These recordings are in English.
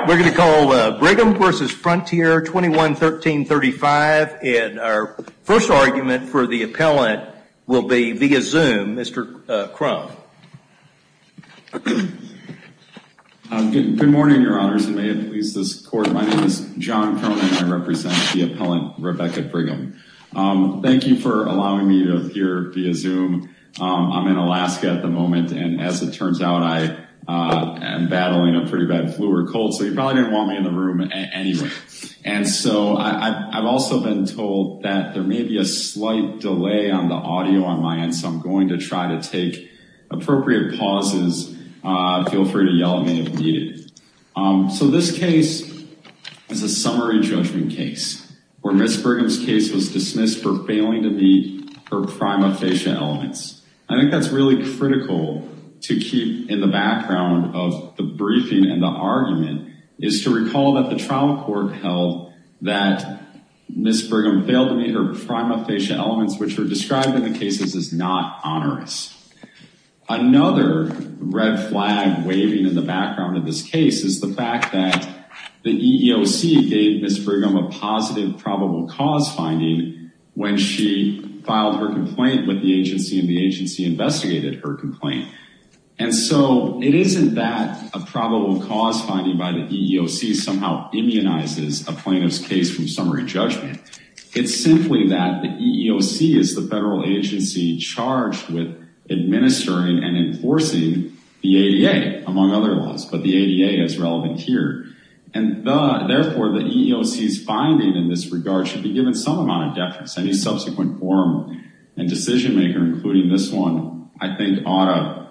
We're going to call Brigham v. Frontier, 21-1335, and our first argument for the appellant will be via Zoom, Mr. Crum. Good morning, your honors, and may it please this court, my name is John Crum, and I represent the appellant, Rebecca Brigham. Thank you for allowing me to appear via Zoom. I'm in Alaska at the moment, and as it turns out, I am battling a pretty bad flu or cold so you probably didn't want me in the room anyway. And so I've also been told that there may be a slight delay on the audio on my end, so I'm going to try to take appropriate pauses, feel free to yell at me if needed. So this case is a summary judgment case, where Ms. Brigham's case was dismissed for failing to meet her prime official elements. I think that's really critical to keep in the background of the briefing and the argument is to recall that the trial court held that Ms. Brigham failed to meet her prima facie elements, which were described in the cases as not onerous. Another red flag waving in the background of this case is the fact that the EEOC gave Ms. Brigham a positive probable cause finding when she filed her complaint with the agency and the agency investigated her complaint. And so it isn't that a probable cause finding by the EEOC somehow immunizes a plaintiff's case from summary judgment, it's simply that the EEOC is the federal agency charged with administering and enforcing the ADA, among other laws, but the ADA is relevant here. And therefore the EEOC's finding in this regard should be given some amount of deference. Any subsequent form and decision maker, including this one, I think ought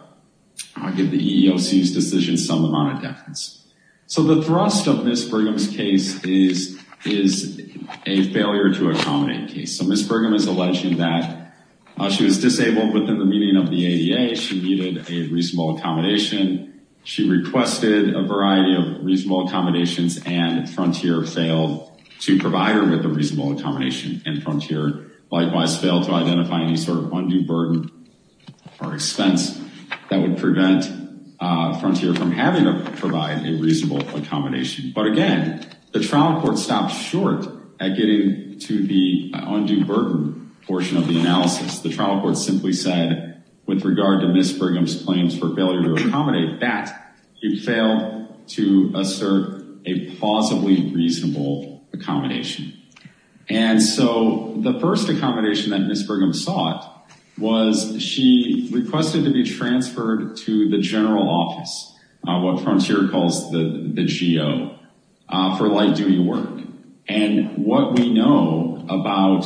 to give the EEOC's decision some amount of deference. So the thrust of Ms. Brigham's case is a failure to accommodate case. So Ms. Brigham is alleging that she was disabled within the meaning of the ADA, she needed a reasonable accommodation, she requested a variety of reasonable accommodations and Frontier failed to provide her with a reasonable accommodation and Frontier likewise failed to identify any sort of undue burden or expense that would prevent Frontier from having to provide a reasonable accommodation. But again, the trial court stopped short at getting to the undue burden portion of the analysis. The trial court simply said, with regard to Ms. Brigham's claims for failure to accommodate that, you failed to assert a plausibly reasonable accommodation. And so the first accommodation that Ms. Brigham sought was she requested to be transferred to the general office, what Frontier calls the GO, for light duty work. And what we know about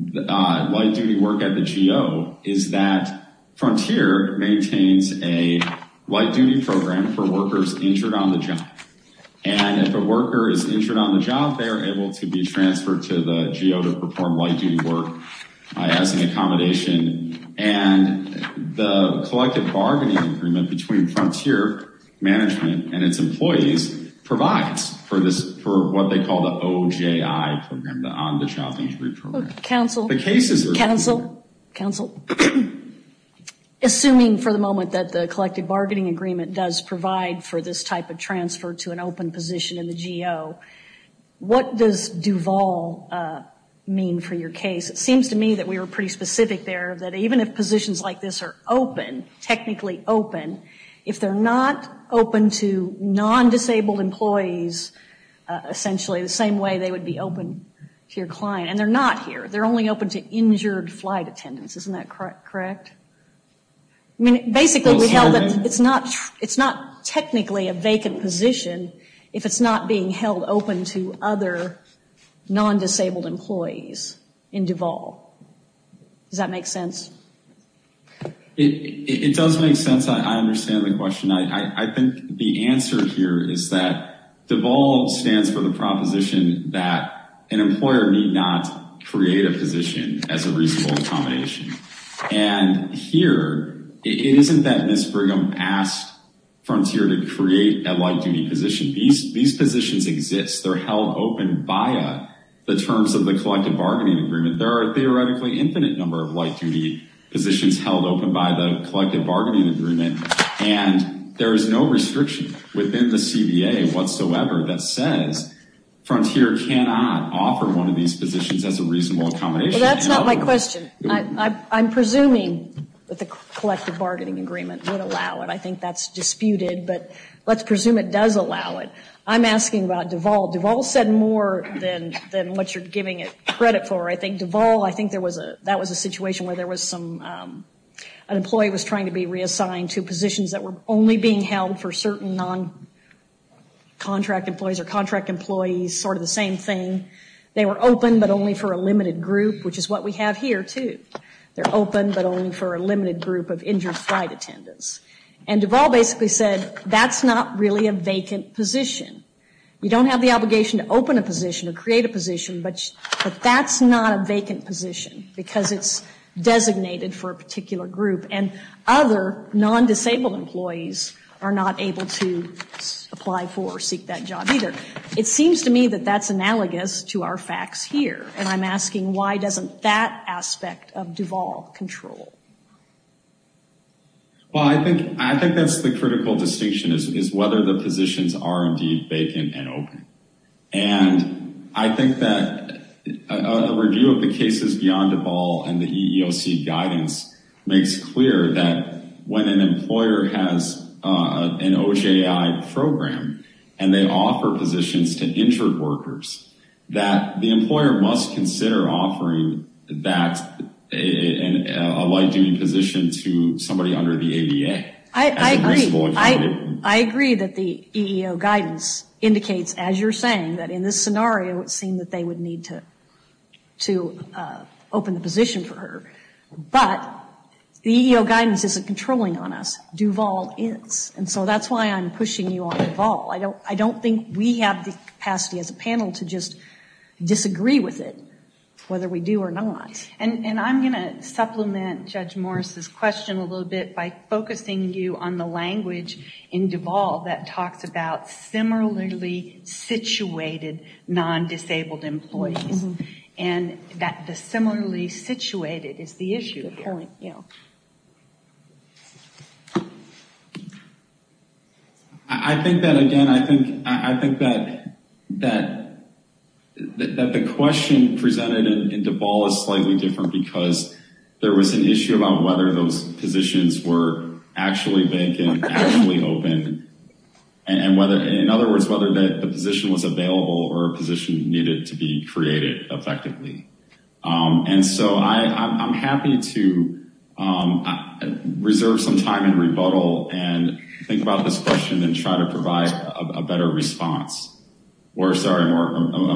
light duty work at the GO is that Frontier maintains a light duty program for workers injured on the job. And if a worker is injured on the job, they are able to be transferred to the GO to perform light duty work as an accommodation. And the collective bargaining agreement between Frontier management and its employees provides for what they call the OJI program, the On the Job Injury Program. Counsel, assuming for the moment that the collective bargaining agreement does provide for this type of transfer to an open position in the GO, what does Duvall mean for your case? It seems to me that we were pretty specific there, that even if positions like this are open, technically open, if they're not open to non-disabled employees, essentially the same way they would be open to your client, and they're not here, they're only open to injured flight attendants, isn't that correct? I mean, basically we held that it's not technically a vacant position if it's not being held open to other non-disabled employees in Duvall. Does that make sense? It does make sense. I understand the question. I think the answer here is that Duvall stands for the proposition that an employer need not create a position as a reasonable accommodation. And here, it isn't that Ms. Brigham asked Frontier to create a light duty position. These positions exist. They're held open via the terms of the collective bargaining agreement. There are a theoretically infinite number of light duty positions held open by the collective bargaining agreement, and there is no restriction within the CBA whatsoever that says Frontier cannot offer one of these positions as a reasonable accommodation. Well, that's not my question. I'm presuming that the collective bargaining agreement would allow it. I think that's disputed, but let's presume it does allow it. I'm asking about Duvall. Duvall said more than what you're giving it credit for. I think Duvall, that was a situation where an employee was trying to be reassigned to positions that were only being held for certain non-contract employees or contract employees, sort of the same thing. They were open, but only for a limited group, which is what we have here, too. They're open, but only for a limited group of injured flight attendants. And Duvall basically said, that's not really a vacant position. You don't have the obligation to open a position or create a position, but that's not a vacant position, because it's designated for a particular group. And other non-disabled employees are not able to apply for or seek that job either. It seems to me that that's analogous to our facts here. And I'm asking, why doesn't that aspect of Duvall control? Well, I think that's the critical distinction, is whether the positions are indeed vacant and open. And I think that a review of the cases beyond Duvall and the EEOC guidance makes clear that when an employer has an OJI program and they offer positions to injured workers, that the position is not due in position to somebody under the ADA. I agree that the EEO guidance indicates, as you're saying, that in this scenario, it seemed that they would need to open the position for her. But the EEO guidance isn't controlling on us. Duvall is. And so that's why I'm pushing you on Duvall. I don't think we have the capacity as a panel to just disagree with it, whether we do or not. And I'm going to supplement Judge Morris's question a little bit by focusing you on the language in Duvall that talks about similarly situated non-disabled employees. And that the similarly situated is the issue. I think that, again, I think that the question presented in Duvall is slightly different because there was an issue about whether those positions were actually vacant, actually open. And whether, in other words, whether the position was available or a position needed to be created effectively. And so I'm happy to reserve some time and rebuttal and think about this question and try to provide a better response. Or, sorry, a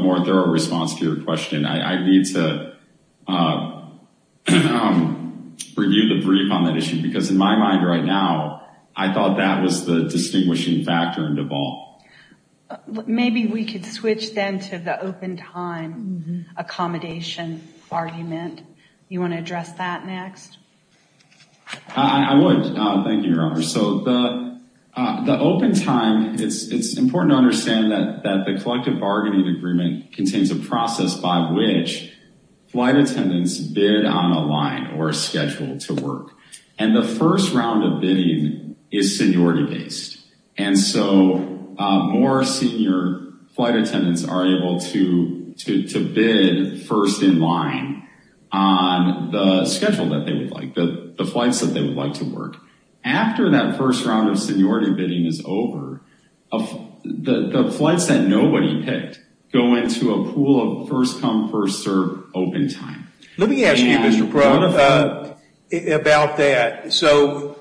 more thorough response to your question. I need to review the brief on that issue. Because in my mind right now, I thought that was the distinguishing factor in Duvall. Maybe we could switch then to the open time accommodation argument. You want to address that next? I would. Thank you, Your Honor. So the open time, it's important to understand that the collective bargaining agreement contains a process by which flight attendants bid on a line or a schedule to work. And the first round of bidding is seniority based. And so more senior flight attendants are able to bid first in line on the schedule that they would like, the flights that they would like to work. After that first round of seniority bidding is over, the flights that nobody picked go into a pool of first-come, first-served open time. Let me ask you, Mr. Perron, about that. So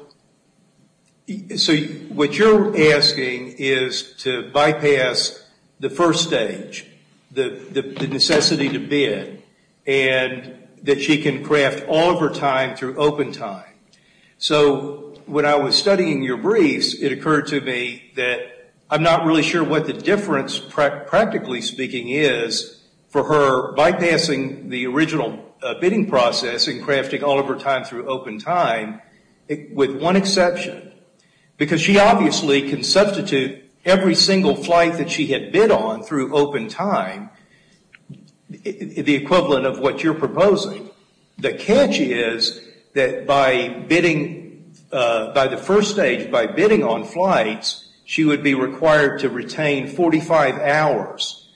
what you're asking is to bypass the first stage, the necessity to bid, and that she can craft all of her time through open time. So when I was studying your briefs, it occurred to me that I'm not really sure practically speaking is for her bypassing the original bidding process and crafting all of her time through open time with one exception. Because she obviously can substitute every single flight that she had bid on through open time, the equivalent of what you're proposing. The catch is that by bidding, by the first stage, by bidding on flights, she would be required to retain 45 hours.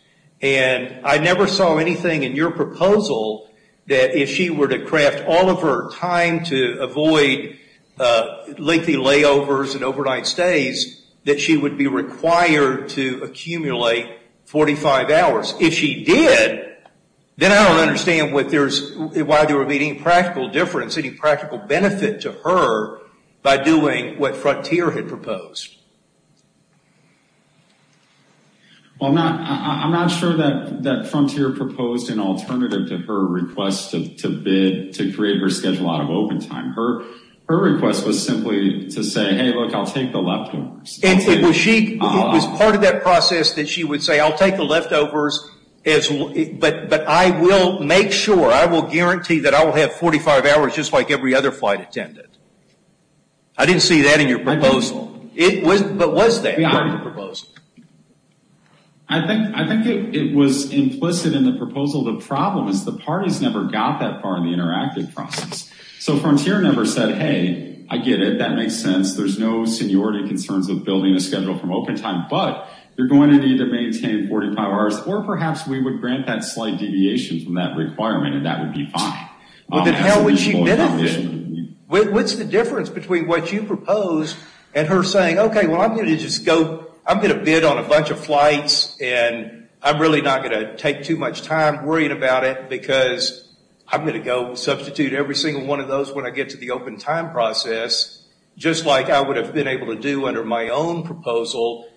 And I never saw anything in your proposal that if she were to craft all of her time to avoid lengthy layovers and overnight stays, that she would be required to accumulate 45 hours. If she did, then I don't understand why there would be any practical difference, any practical benefit to her by doing what Frontier had proposed. Well, I'm not sure that Frontier proposed an alternative to her request to bid to create her schedule out of open time. Her request was simply to say, hey, look, I'll take the leftovers. It was part of that process that she would say, I'll take the leftovers, but I will make sure, I will guarantee that I will have 45 hours just like every other flight attended. I didn't see that in your proposal. But was that part of the proposal? I think it was implicit in the proposal. The problem is the parties never got that far in the interactive process. So Frontier never said, hey, I get it. That makes sense. There's no seniority concerns of building a schedule from open time, but you're going to need to maintain 45 hours, or perhaps we would grant that slight deviation from that requirement and that would be fine. What's the difference between what you proposed and her saying, okay, well, I'm going to bid on a bunch of flights and I'm really not going to take too much time worrying about it because I'm going to go substitute every single one of those when I get to the open time process, just like I would have been able to do under my own proposal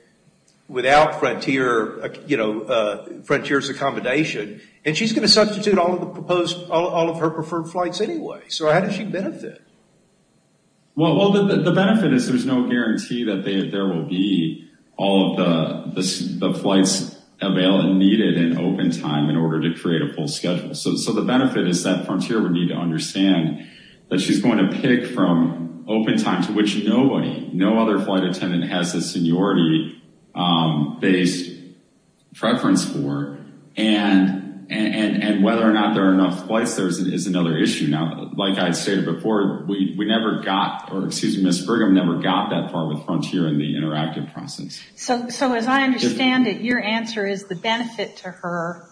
without Frontier's accommodation. And she's going to substitute all of her preferred flights anyway. So how does she benefit? Well, the benefit is there's no guarantee that there will be all of the flights needed in open time in order to create a full schedule. So the benefit is that Frontier would need to understand that she's going to pick from open time to which nobody, no other flight attendant has a seniority-based preference for and whether or not there are enough flights is another issue. Now, like I stated before, we never got, or excuse me, Ms. Brigham never got that far with Frontier in the interactive process. So as I understand it, your answer is the benefit to her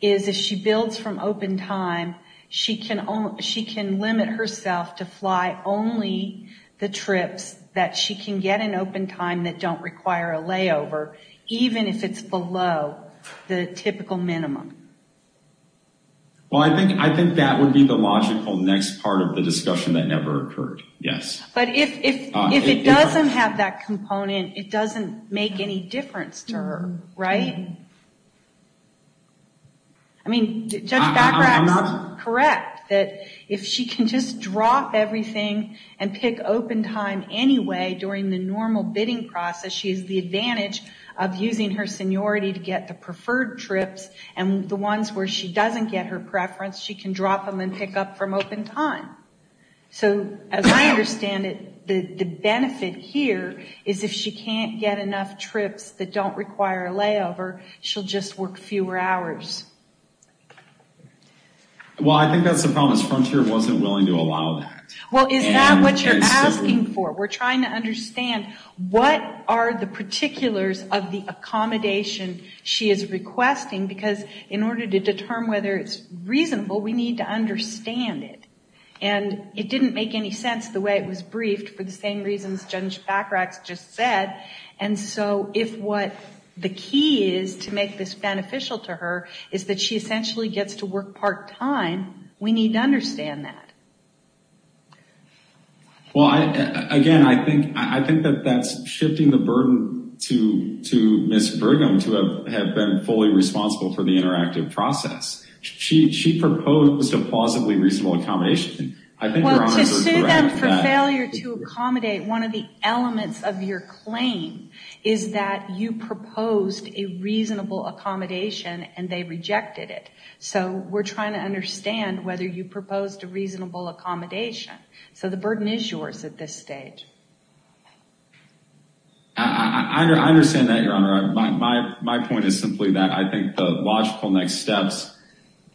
is if she builds from open time, she can limit herself to fly only the trips that she can get in open time that don't require a layover, even if it's below the typical minimum. Well, I think that would be the logical next part of the discussion that never occurred, yes. But if it doesn't have that component, it doesn't make any difference to her, right? I mean, Judge Bachrach is correct that if she can just drop everything and pick open time anyway during the normal bidding process, she has the advantage of using her seniority to get the preferred trips, and the ones where she doesn't get her preference, she can drop them and pick up from open time. So as I understand it, the benefit here is if she can't get enough trips that don't require a layover, she'll just work fewer hours. Well, I think that's the problem, is Frontier wasn't willing to allow that. Well, is that what you're asking for? We're trying to understand what are the particulars of the accommodation she is requesting, because in order to determine whether it's reasonable, we need to understand it. And it didn't make any sense the way it was briefed for the same reasons Judge Bachrach just said. And so if what the key is to make this beneficial to her is that she essentially gets to work part-time, we need to understand that. Well, again, I think that that's shifting the burden to Ms. Burgum to have been fully responsible for the interactive process. She proposed a plausibly reasonable accommodation. Well, to sue them for failure to accommodate one of the elements of your claim is that you proposed a reasonable accommodation and they rejected it. So we're trying to understand whether you proposed a reasonable accommodation. So the burden is yours at this stage. I understand that, Your Honor. My point is simply that I think the logical next steps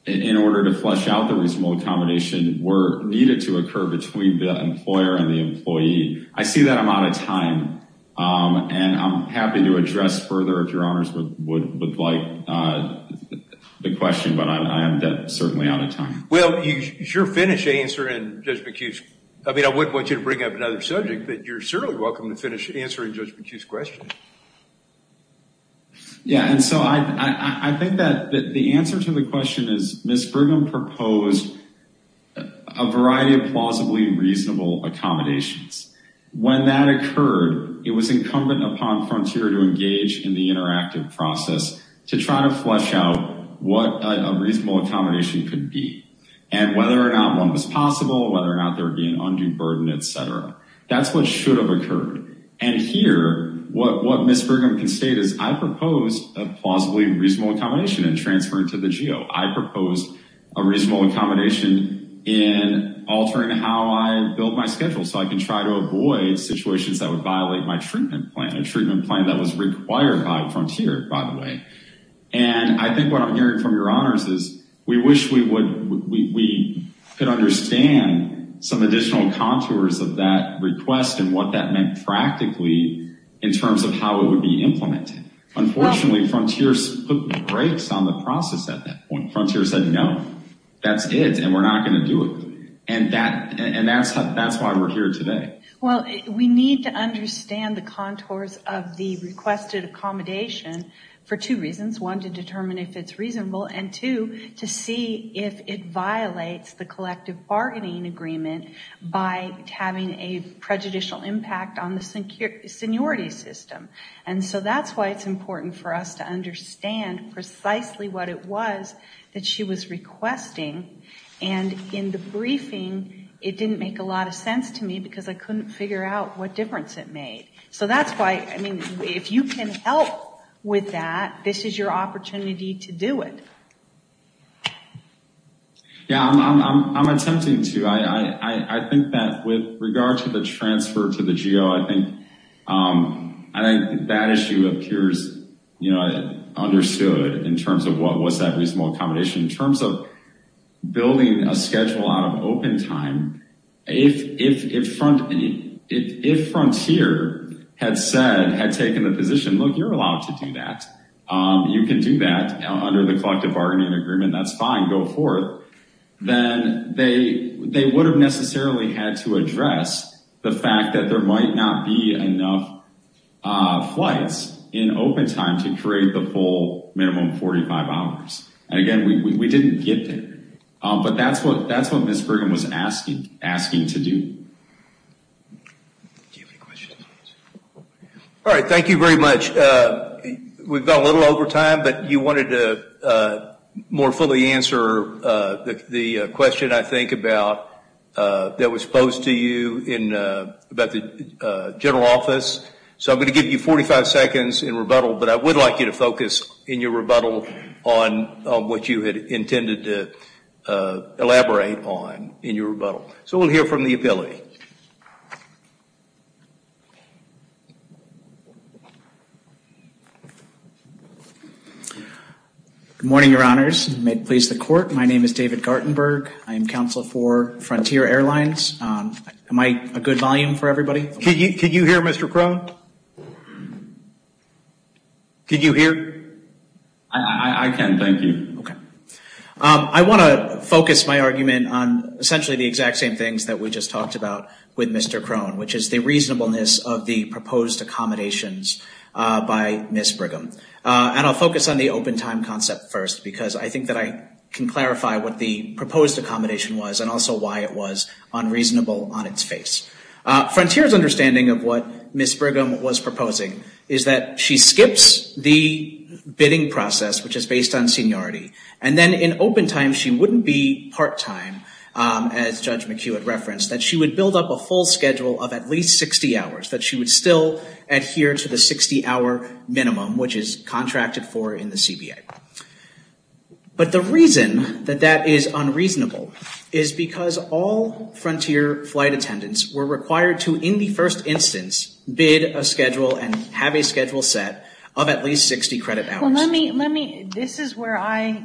in order to flesh out the reasonable accommodation were needed to occur between the employer and the employee. I see that I'm out of time and I'm happy to address further if Your Honors would like the question, but I am certainly out of time. Well, you sure finished answering Judge McHugh's... I mean, I wouldn't want you to bring up another subject, but you're certainly welcome to finish answering Judge McHugh's question. Yeah, and so I think that the answer to the question is Ms. Burgum proposed a variety of plausibly reasonable accommodations. When that occurred, it was incumbent upon Frontier to engage in the interactive process to try to flesh out what a reasonable accommodation could be and whether or not one was possible, whether or not there would be an undue burden, et cetera. That's what should have occurred. And here, what Ms. Burgum can state is, I proposed a plausibly reasonable accommodation in transferring to the GO. I proposed a reasonable accommodation in altering how I build my schedule so I can try to avoid situations that would violate my treatment plan, a treatment plan that was required by Frontier, by the way. And I think what I'm hearing from Your Honors is we wish we could understand some additional contours of that request and what that meant practically in terms of how it would be implemented. Unfortunately, Frontier took breaks on the process at that point. Frontier said, no, that's it, and we're not gonna do it. And that's why we're here today. Well, we need to understand the contours of the requested accommodation for two reasons. One, to determine if it's reasonable. And two, to see if it violates the collective bargaining agreement by having a prejudicial impact on the seniority system. And so that's why it's important for us to understand precisely what it was that she was requesting. And in the briefing, it didn't make a lot of sense to me because I couldn't figure out what difference it made. So that's why, I mean, if you can help with that, this is your opportunity to do it. Yeah, I'm attempting to. I think that with regard to the transfer to the GO, I think that issue appears, understood in terms of what's that reasonable accommodation in terms of building a schedule out of open time. If Frontier had said, had taken the position, look, you're allowed to do that. You can do that under the collective bargaining agreement. That's fine. Go forth. Then they would have necessarily had to address the fact that there might not be enough flights in open time to create the full minimum 45 hours. And again, we didn't get there. But that's what Ms. Brigham was asking to do. Alright, thank you very much. We've gone a little over time, but you wanted to more fully answer the question I think about that was posed to you about the general office. So I'm going to give you 45 seconds in rebuttal, but I would like you to focus in your rebuttal on what you had intended to elaborate on in your rebuttal. So we'll hear from the ability. Good morning, your honors. My name is David Gartenberg. I am counsel for Frontier Airlines. Am I a good volume for everybody? Can you hear Mr. Crone? Can you hear? I can, thank you. I want to focus my argument on essentially the exact same things that we just talked about with Mr. Crone, which is the reasonableness of the proposed accommodations by Ms. Brigham. And I'll focus on the open time concept first because I think that I can clarify what the proposed accommodation was and also why it was proposed. Frontier's understanding of what Ms. Brigham was proposing is that she skips the bidding process, which is based on seniority, and then in open time she wouldn't be part-time as Judge McHugh had referenced, that she would build up a full schedule of at least 60 hours, that she would still adhere to the 60-hour minimum, which is contracted for in the CBA. But the reason that that is unreasonable is because all judges who, in the first instance, bid a schedule and have a schedule set of at least 60 credit hours. This is where I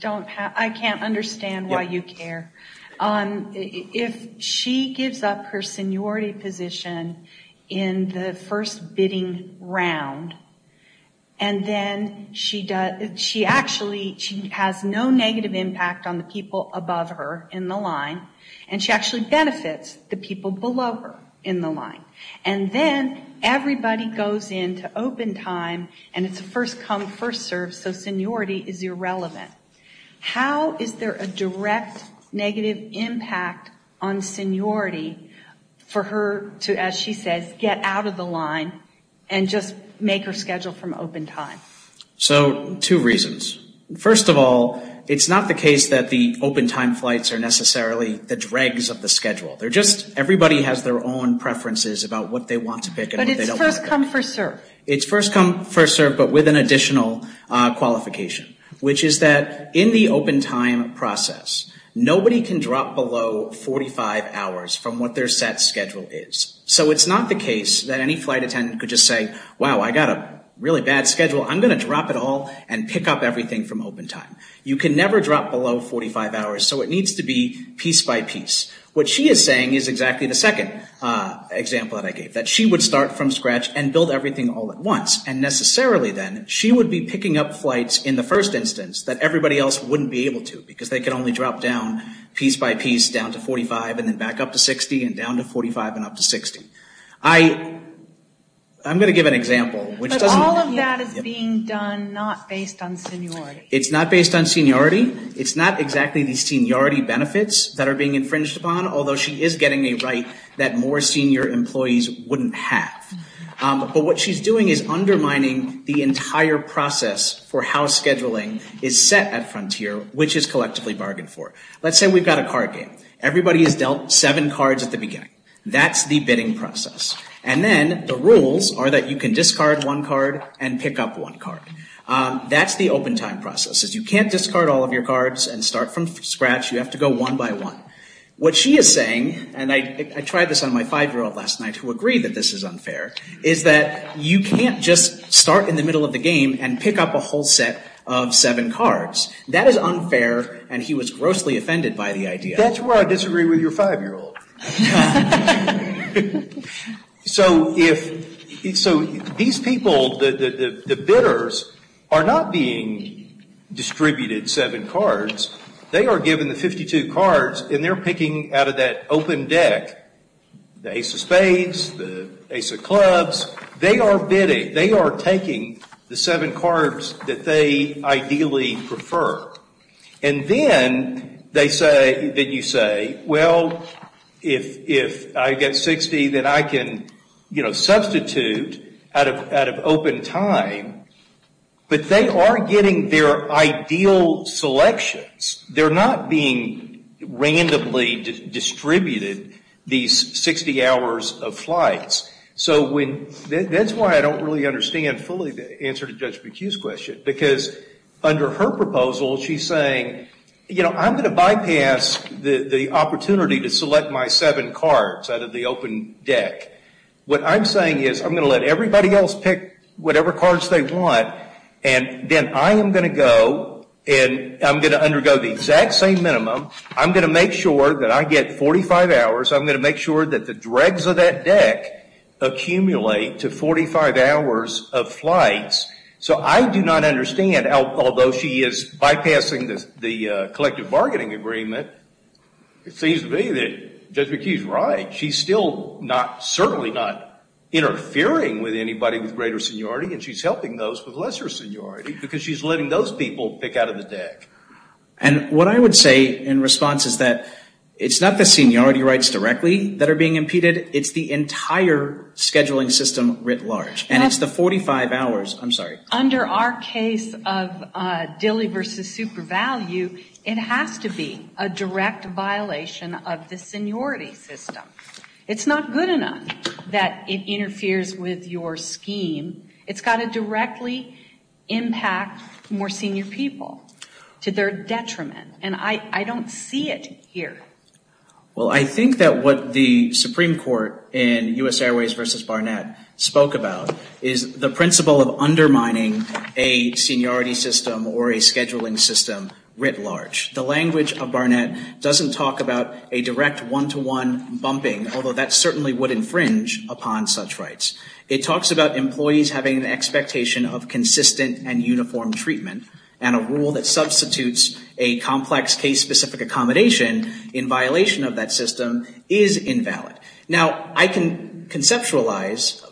can't understand why you care. If she gives up her seniority position in the first bidding round and then she actually has no negative impact on the people above her in the line, and she actually benefits the people below her in the line, and then everybody goes into open time and it's a first come first serve, so seniority is irrelevant. How is there a direct negative impact on seniority for her to, as she says, get out of the line and just make her schedule from open time? So, two reasons. First of all, it's not the case that the open time flights are necessarily the dregs of the schedule. They're just, everybody has their own preferences about what they want to pick and what they don't want to pick. But it's first come first serve. It's first come first serve, but with an additional qualification, which is that in the open time process, nobody can drop below 45 hours from what their set schedule is. So it's not the case that any flight attendant could just say, wow, I got a really bad schedule. I'm going to drop it all and pick up everything from open time. You can never drop below 45 hours, so it needs to be piece by piece. What she is saying is exactly the second example that I gave, that she would start from scratch and build everything all at once, and necessarily then she would be picking up flights in the first instance that everybody else wouldn't be able to because they could only drop down piece by piece down to 45 and then back up to 60 and down to 45 and up to 60. I'm going to give an example. But all of that is being done not based on seniority. It's not based on seniority. It's not exactly the seniority benefits that are being infringed upon, although she is getting a right that more senior employees wouldn't have. But what she's doing is undermining the entire process for how scheduling is set at Frontier, which is collectively bargained for. Let's say we've got a card game. Everybody has dealt seven cards at the beginning. That's the bidding process. And then the rules are that you can discard one card and pick up one card. That's the open time process. You can't discard all of your cards and start from scratch. You have to go one by one. What she is saying, and I tried this on my five-year-old last night who agreed that this is unfair, is that you can't just start in the middle of the game and pick up a whole set of seven cards. That is unfair and he was grossly offended by the idea. That's where I disagree with your five-year-old. laughter So if these people the bidders are not being distributed seven cards. They are given the 52 cards and they're picking out of that open deck the ace of spades, the ace of clubs. They are bidding. They are taking the seven cards that they ideally prefer. And then they say that you say, well if I get 60 then I can substitute out of open time. But they are getting their ideal selections. They are not being randomly distributed these 60 hours of flights. So that's why I don't really understand fully the answer to Judge McHugh's question because under her proposal she is saying I'm going to bypass the opportunity to select my seven cards out of the open deck. What I'm saying is I'm going to let everybody else pick whatever cards they want and then I am going to go and I'm going to undergo the exact same minimum. I'm going to make sure that I get 45 hours. I'm going to make sure that the dregs of that deck accumulate to 45 hours of flights. So I do not understand although she is bypassing the collective bargaining agreement It seems to me that Judge McHugh is right. She is still not certainly not interfering with anybody with greater seniority and she is helping those with lesser seniority because she is letting those people pick out of the deck. And what I would say in response is that it's not the seniority rights directly that are being impeded. It's the entire scheduling system writ large. And it's the 45 hours. I'm sorry. Under our case of Dilley versus SuperValue it has to be a direct violation of the seniority system. It's not good enough that it interferes with your scheme. It's got to directly impact more senior people to their detriment. And I don't see it here. Well I think that what the Supreme Court in U.S. Airways versus Barnett spoke about is the principle of undermining a seniority system or a scheduling system writ large. The language of Barnett doesn't talk about a direct one-to-one bumping, although that certainly would infringe upon such rights. It talks about employees having an expectation of consistent and uniform treatment and a rule that substitutes a complex case-specific accommodation in violation of that system is invalid. Now I can conceptualize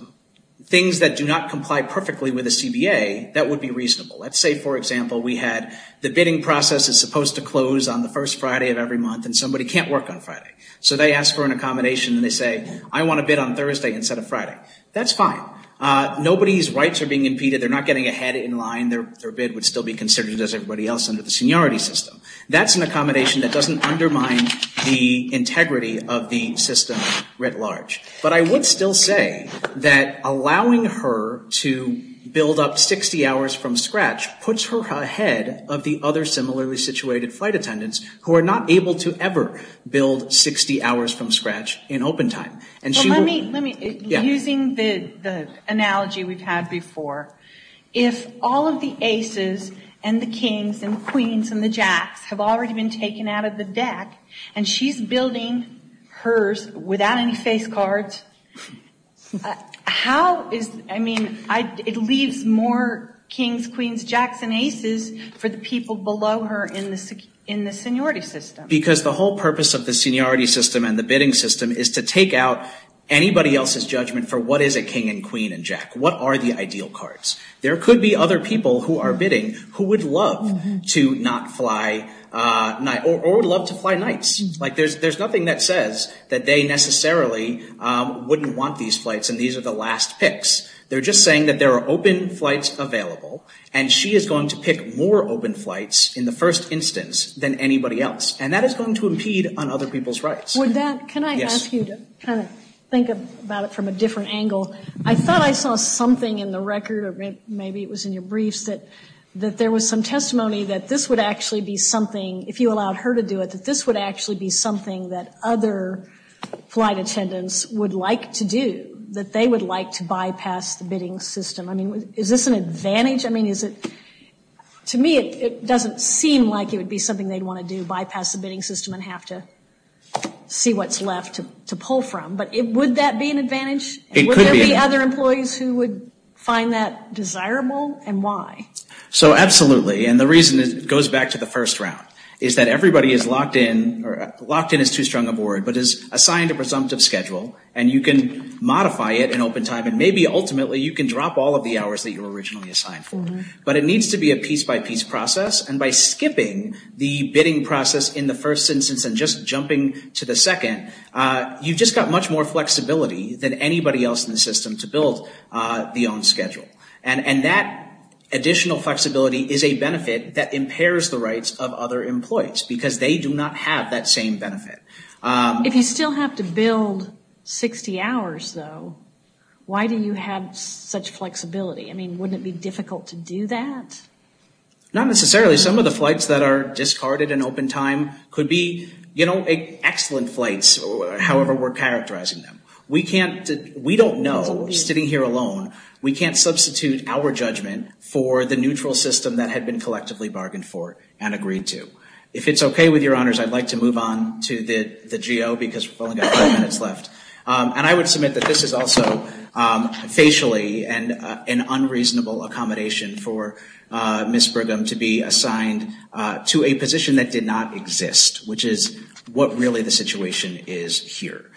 things that do not comply perfectly with a CBA that would be reasonable. Let's say for example we had the bidding process is supposed to close on the first Friday of every month and somebody can't work on Friday. So they ask for an accommodation and they say I want to bid on Thursday instead of Friday. That's fine. Nobody's rights are being impeded. They're not getting ahead in line. Their bid would still be considered as everybody else under the seniority system. That's an accommodation that doesn't undermine the integrity of the system writ large. But I would still say that allowing her to build up 60 hours from scratch puts her ahead of the other similarly situated flight attendants who are not able to ever build 60 hours from scratch in open time. Using the analogy we've had before, if all of the aces and the kings and queens and the jacks have already been taken out of the deck and she's building hers without any face cards, how is, I mean, it leaves more kings, queens, jacks and aces for the people below her in the seniority system. Because the whole purpose of the seniority system and the bidding system is to take out anybody else's judgment for what is a king and queen and jack. What are the ideal cards? There could be other people who are bidding who would love to not fly or would love to fly nights. Like there's nothing that says that they necessarily wouldn't want these flights and these are the last picks. They're just saying that there are open flights available and she is going to pick more open flights in the first instance than anybody else. And that is going to impede on other people's rights. Can I ask you to think about it from a different angle? I thought I saw something in the record, maybe it was in your briefs that there was some testimony that this would actually be something, if you allowed her to do it, that this would actually be something that other flight attendants would like to do. That they would like to bypass the bidding system. Is this an advantage? To me it doesn't seem like it would be something they'd want to do, bypass the bidding system and have to see what's left to pull from. Would that be an advantage? Would there be other employees who would find that desirable and why? Absolutely. And the reason goes back to the first round. Is that everybody is locked in or locked in is too strong a word, but is assigned a presumptive schedule and you can modify it in open time and maybe ultimately you can drop all of the hours that you were originally assigned for. But it needs to be a piece by piece process and by skipping the bidding process in the first instance and just jumping to the second, you've just got much more flexibility than anybody else in the system to build the own schedule. And that additional flexibility is a benefit for employees because they do not have that same benefit. If you still have to build 60 hours though, why do you have such flexibility? I mean, wouldn't it be difficult to do that? Not necessarily. Some of the flights that are discarded in open time could be, you know, excellent flights, however we're characterizing them. We don't know, sitting here alone, we can't substitute our judgment for the neutral system that had been collectively bargained for and agreed to. If it's okay with your honors, I'd like to move on to the GO because we've only got five minutes left. And I would submit that this is also facially an unreasonable accommodation for Ms. Brigham to be assigned to a position that did not exist, which is what really the situation is here.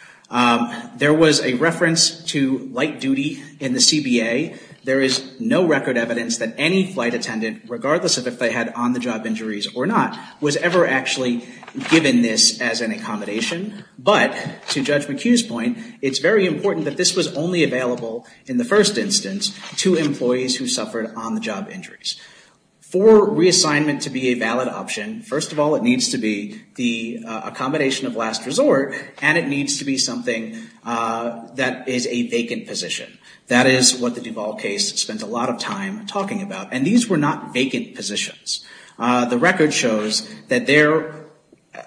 There was a reference to light duty in the CBA. There is no record evidence that any flight attendant, regardless of if they had on-the-job injuries or not, was ever actually given this as an accommodation, but to Judge McHugh's point, it's very important that this was only available in the first instance to employees who suffered on-the-job injuries. For reassignment to be a valid option, first of all it needs to be the accommodation of last resort, and it needs to be something that is a vacant position. That is what the record is talking about, and these were not vacant positions. The record shows that there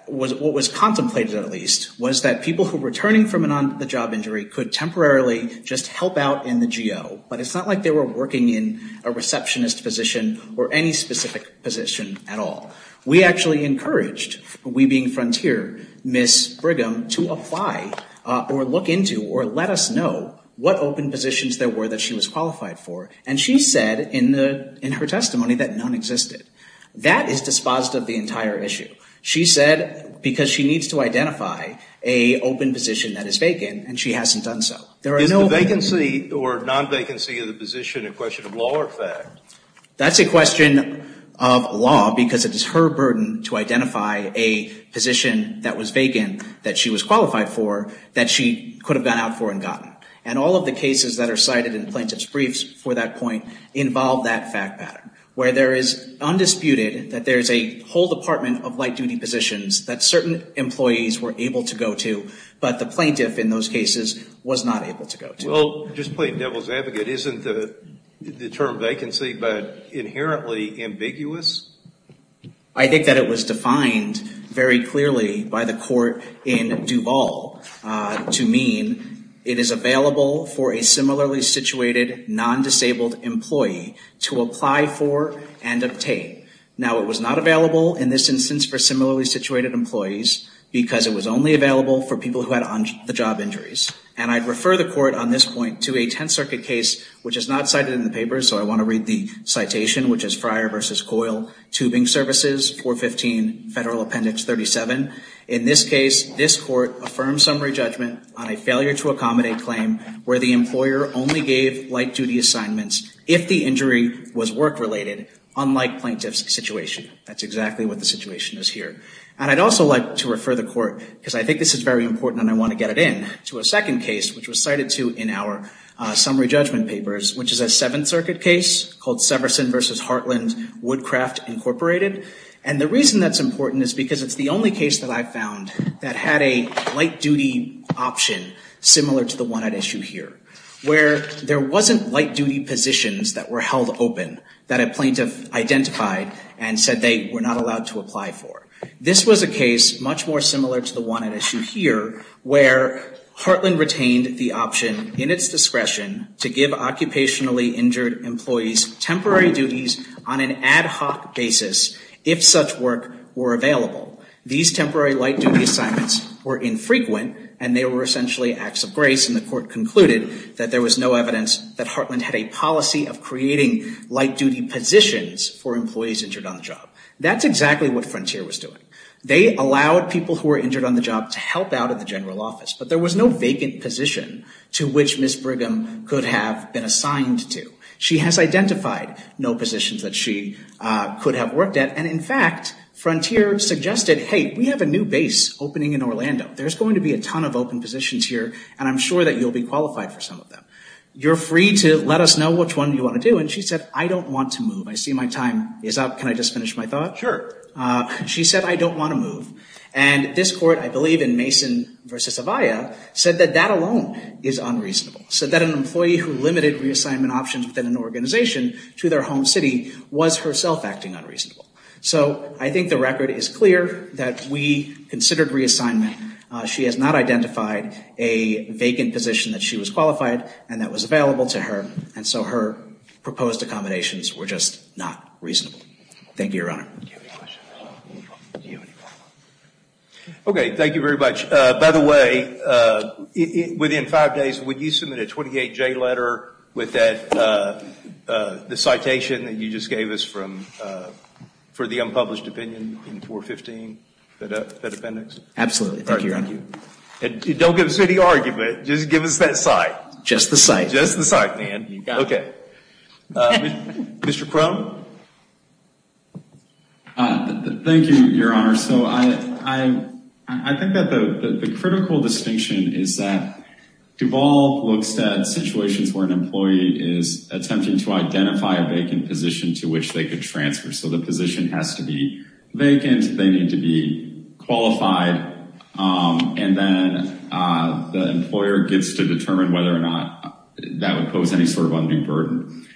was what was contemplated at least was that people who were returning from an on-the-job injury could temporarily just help out in the GO, but it's not like they were working in a receptionist position or any specific position at all. We actually encouraged, we being Frontier, Ms. Brigham to apply or look into or let us know what open positions there were that she was qualified for, and she said in her testimony that none existed. That is dispositive of the entire issue. She said because she needs to identify a open position that is vacant, and she hasn't done so. Is the vacancy or non-vacancy of the position a question of law or fact? That's a question of law because it is her burden to identify a position that was vacant that she was qualified for that she could have gone out for and gotten. And all of the cases that are cited in plaintiff's briefs for that point involve that fact pattern, where there is undisputed that there is a whole department of light-duty positions that certain employees were able to go to, but the plaintiff in those cases was not able to go to. Well, just plain devil's advocate, isn't the term vacancy but inherently ambiguous? I think that it was defined very clearly by the court in Duval to mean it is available for a similarly situated, non-disabled employee to apply for and obtain. Now, it was not available in this instance for similarly situated employees because it was only available for people who had the job injuries. And I'd refer the court on this point to a Tenth Circuit case, which is not cited in the papers, so I want to read the citation, which is Fryer v. Coyle Tubing Services, 415 Federal Appendix 37. In this case, this court affirms summary judgment on a failure to accommodate claim where the employer only gave light-duty assignments if the injury was work-related, unlike plaintiff's situation. That's exactly what the situation is here. And I'd also like to refer the court, because I think this is very important and I want to get it in, to a second case, which was cited to in our summary judgment papers, which is a Seventh Circuit case called Severson v. Hartland Woodcraft Incorporated. And the reason that's important is because it's the only case that I've found that had a light-duty option similar to the one at issue here, where there wasn't light-duty positions that were held open that a plaintiff identified and said they were not allowed to apply for. This was a case much more similar to the one at issue here, where Hartland retained the option in its discretion to give occupationally injured employees temporary duties on an ad hoc basis if such work were available. These temporary light-duty assignments were infrequent, and they were essentially acts of grace, and the court concluded that there was no evidence that Hartland had a policy of creating light-duty positions for employees injured on the job. That's exactly what Frontier was doing. They allowed people who were injured on the job to help out of the general office, but there was no vacant position to which Ms. Brigham could have been assigned to. She has identified no positions that she could have worked at, and in fact, Frontier suggested, hey, we have a new base opening in Orlando. There's going to be a ton of open positions here, and I'm sure that you'll be qualified for some of them. You're free to let us know which one you want to do, and she said, I don't want to move. I see my time is up. Can I just finish my thought? Sure. She said, I don't want to move, and this court, I believe in Mason v. Zavia, said that that alone is unreasonable, said that an employee who limited reassignment options within an organization to their home city was herself acting unreasonable. So, I think the record is clear that we considered reassignment. She has not identified a vacant position that she was qualified, and that was available to her, and so her proposed accommodations were just not reasonable. Thank you, Your Honor. Okay, thank you very much. By the way, within five days, would you submit a 28J letter with that citation that you just gave us for the unpublished opinion in 415, that appendix? Absolutely. Thank you, Your Honor. Don't give us any argument. Just give us that cite. Just the cite. Just the cite, man. Okay. Mr. Crone? Thank you, Your Honor. I think that the critical distinction is that in organizations where an employee is attempting to identify a vacant position to which they could transfer, so the position has to be vacant, they need to be qualified, and then the employer gets to determine whether or not that would pose any sort of undue burden.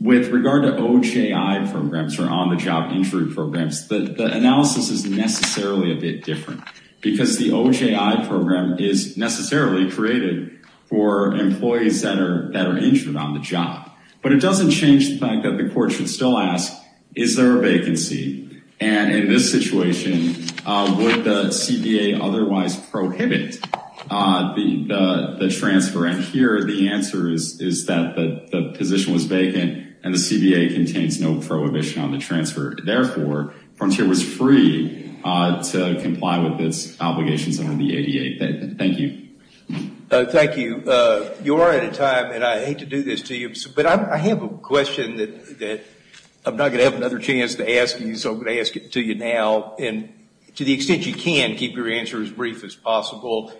With regard to OJI programs, or on-the-job injury programs, the analysis is necessarily a bit different, because the OJI program is necessarily created for employees that are injured on the job. But it doesn't change the fact that the court should still ask, is there a vacancy? And in this situation, would the CBA otherwise prohibit the transfer? And here, the answer is that the position was vacant, and the CBA contains no prohibition on the transfer. Therefore, Frontier was free to comply with its obligations on the ADA. Thank you. Thank you. You are out of time, and I hate to do this to you, but I have a question that I'm not going to have another chance to ask you, so I'm going to ask it to you now, and to the extent you can, keep your answer as brief as possible.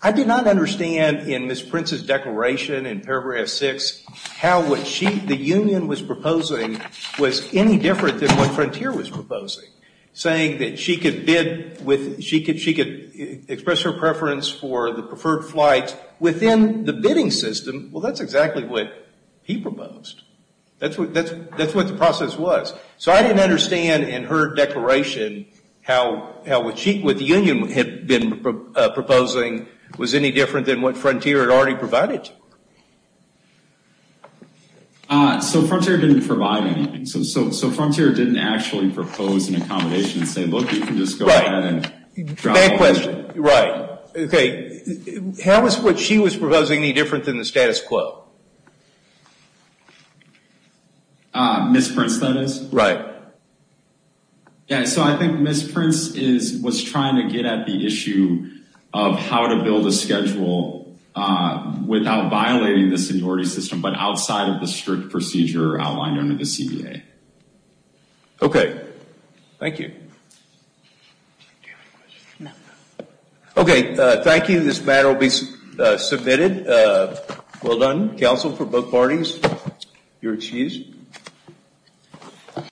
I did not understand in Ms. Prince's declaration in paragraph 6 how what the union was proposing was any different than what Frontier was proposing, saying that she could bid with, she could express her preference for the preferred flight within the bidding system. Well, that's exactly what he proposed. That's what the process was. So I didn't understand in her declaration how what the union had been proposing was any different than what Frontier had already provided to her. So Frontier didn't provide anything. So Frontier didn't actually propose an accommodation and say, look, you can just go ahead and drop off. Right. Okay. How was what she was proposing any different than the status quo? Ms. Prince, that is. Right. Yeah, so I think Ms. Prince was trying to get at the issue of how to build a schedule without violating the seniority system, but outside of the strict procedure outlined under the CBA. Okay. Thank you. Okay. Thank you. This matter will be submitted. Well done. Counsel for both parties, you're excused.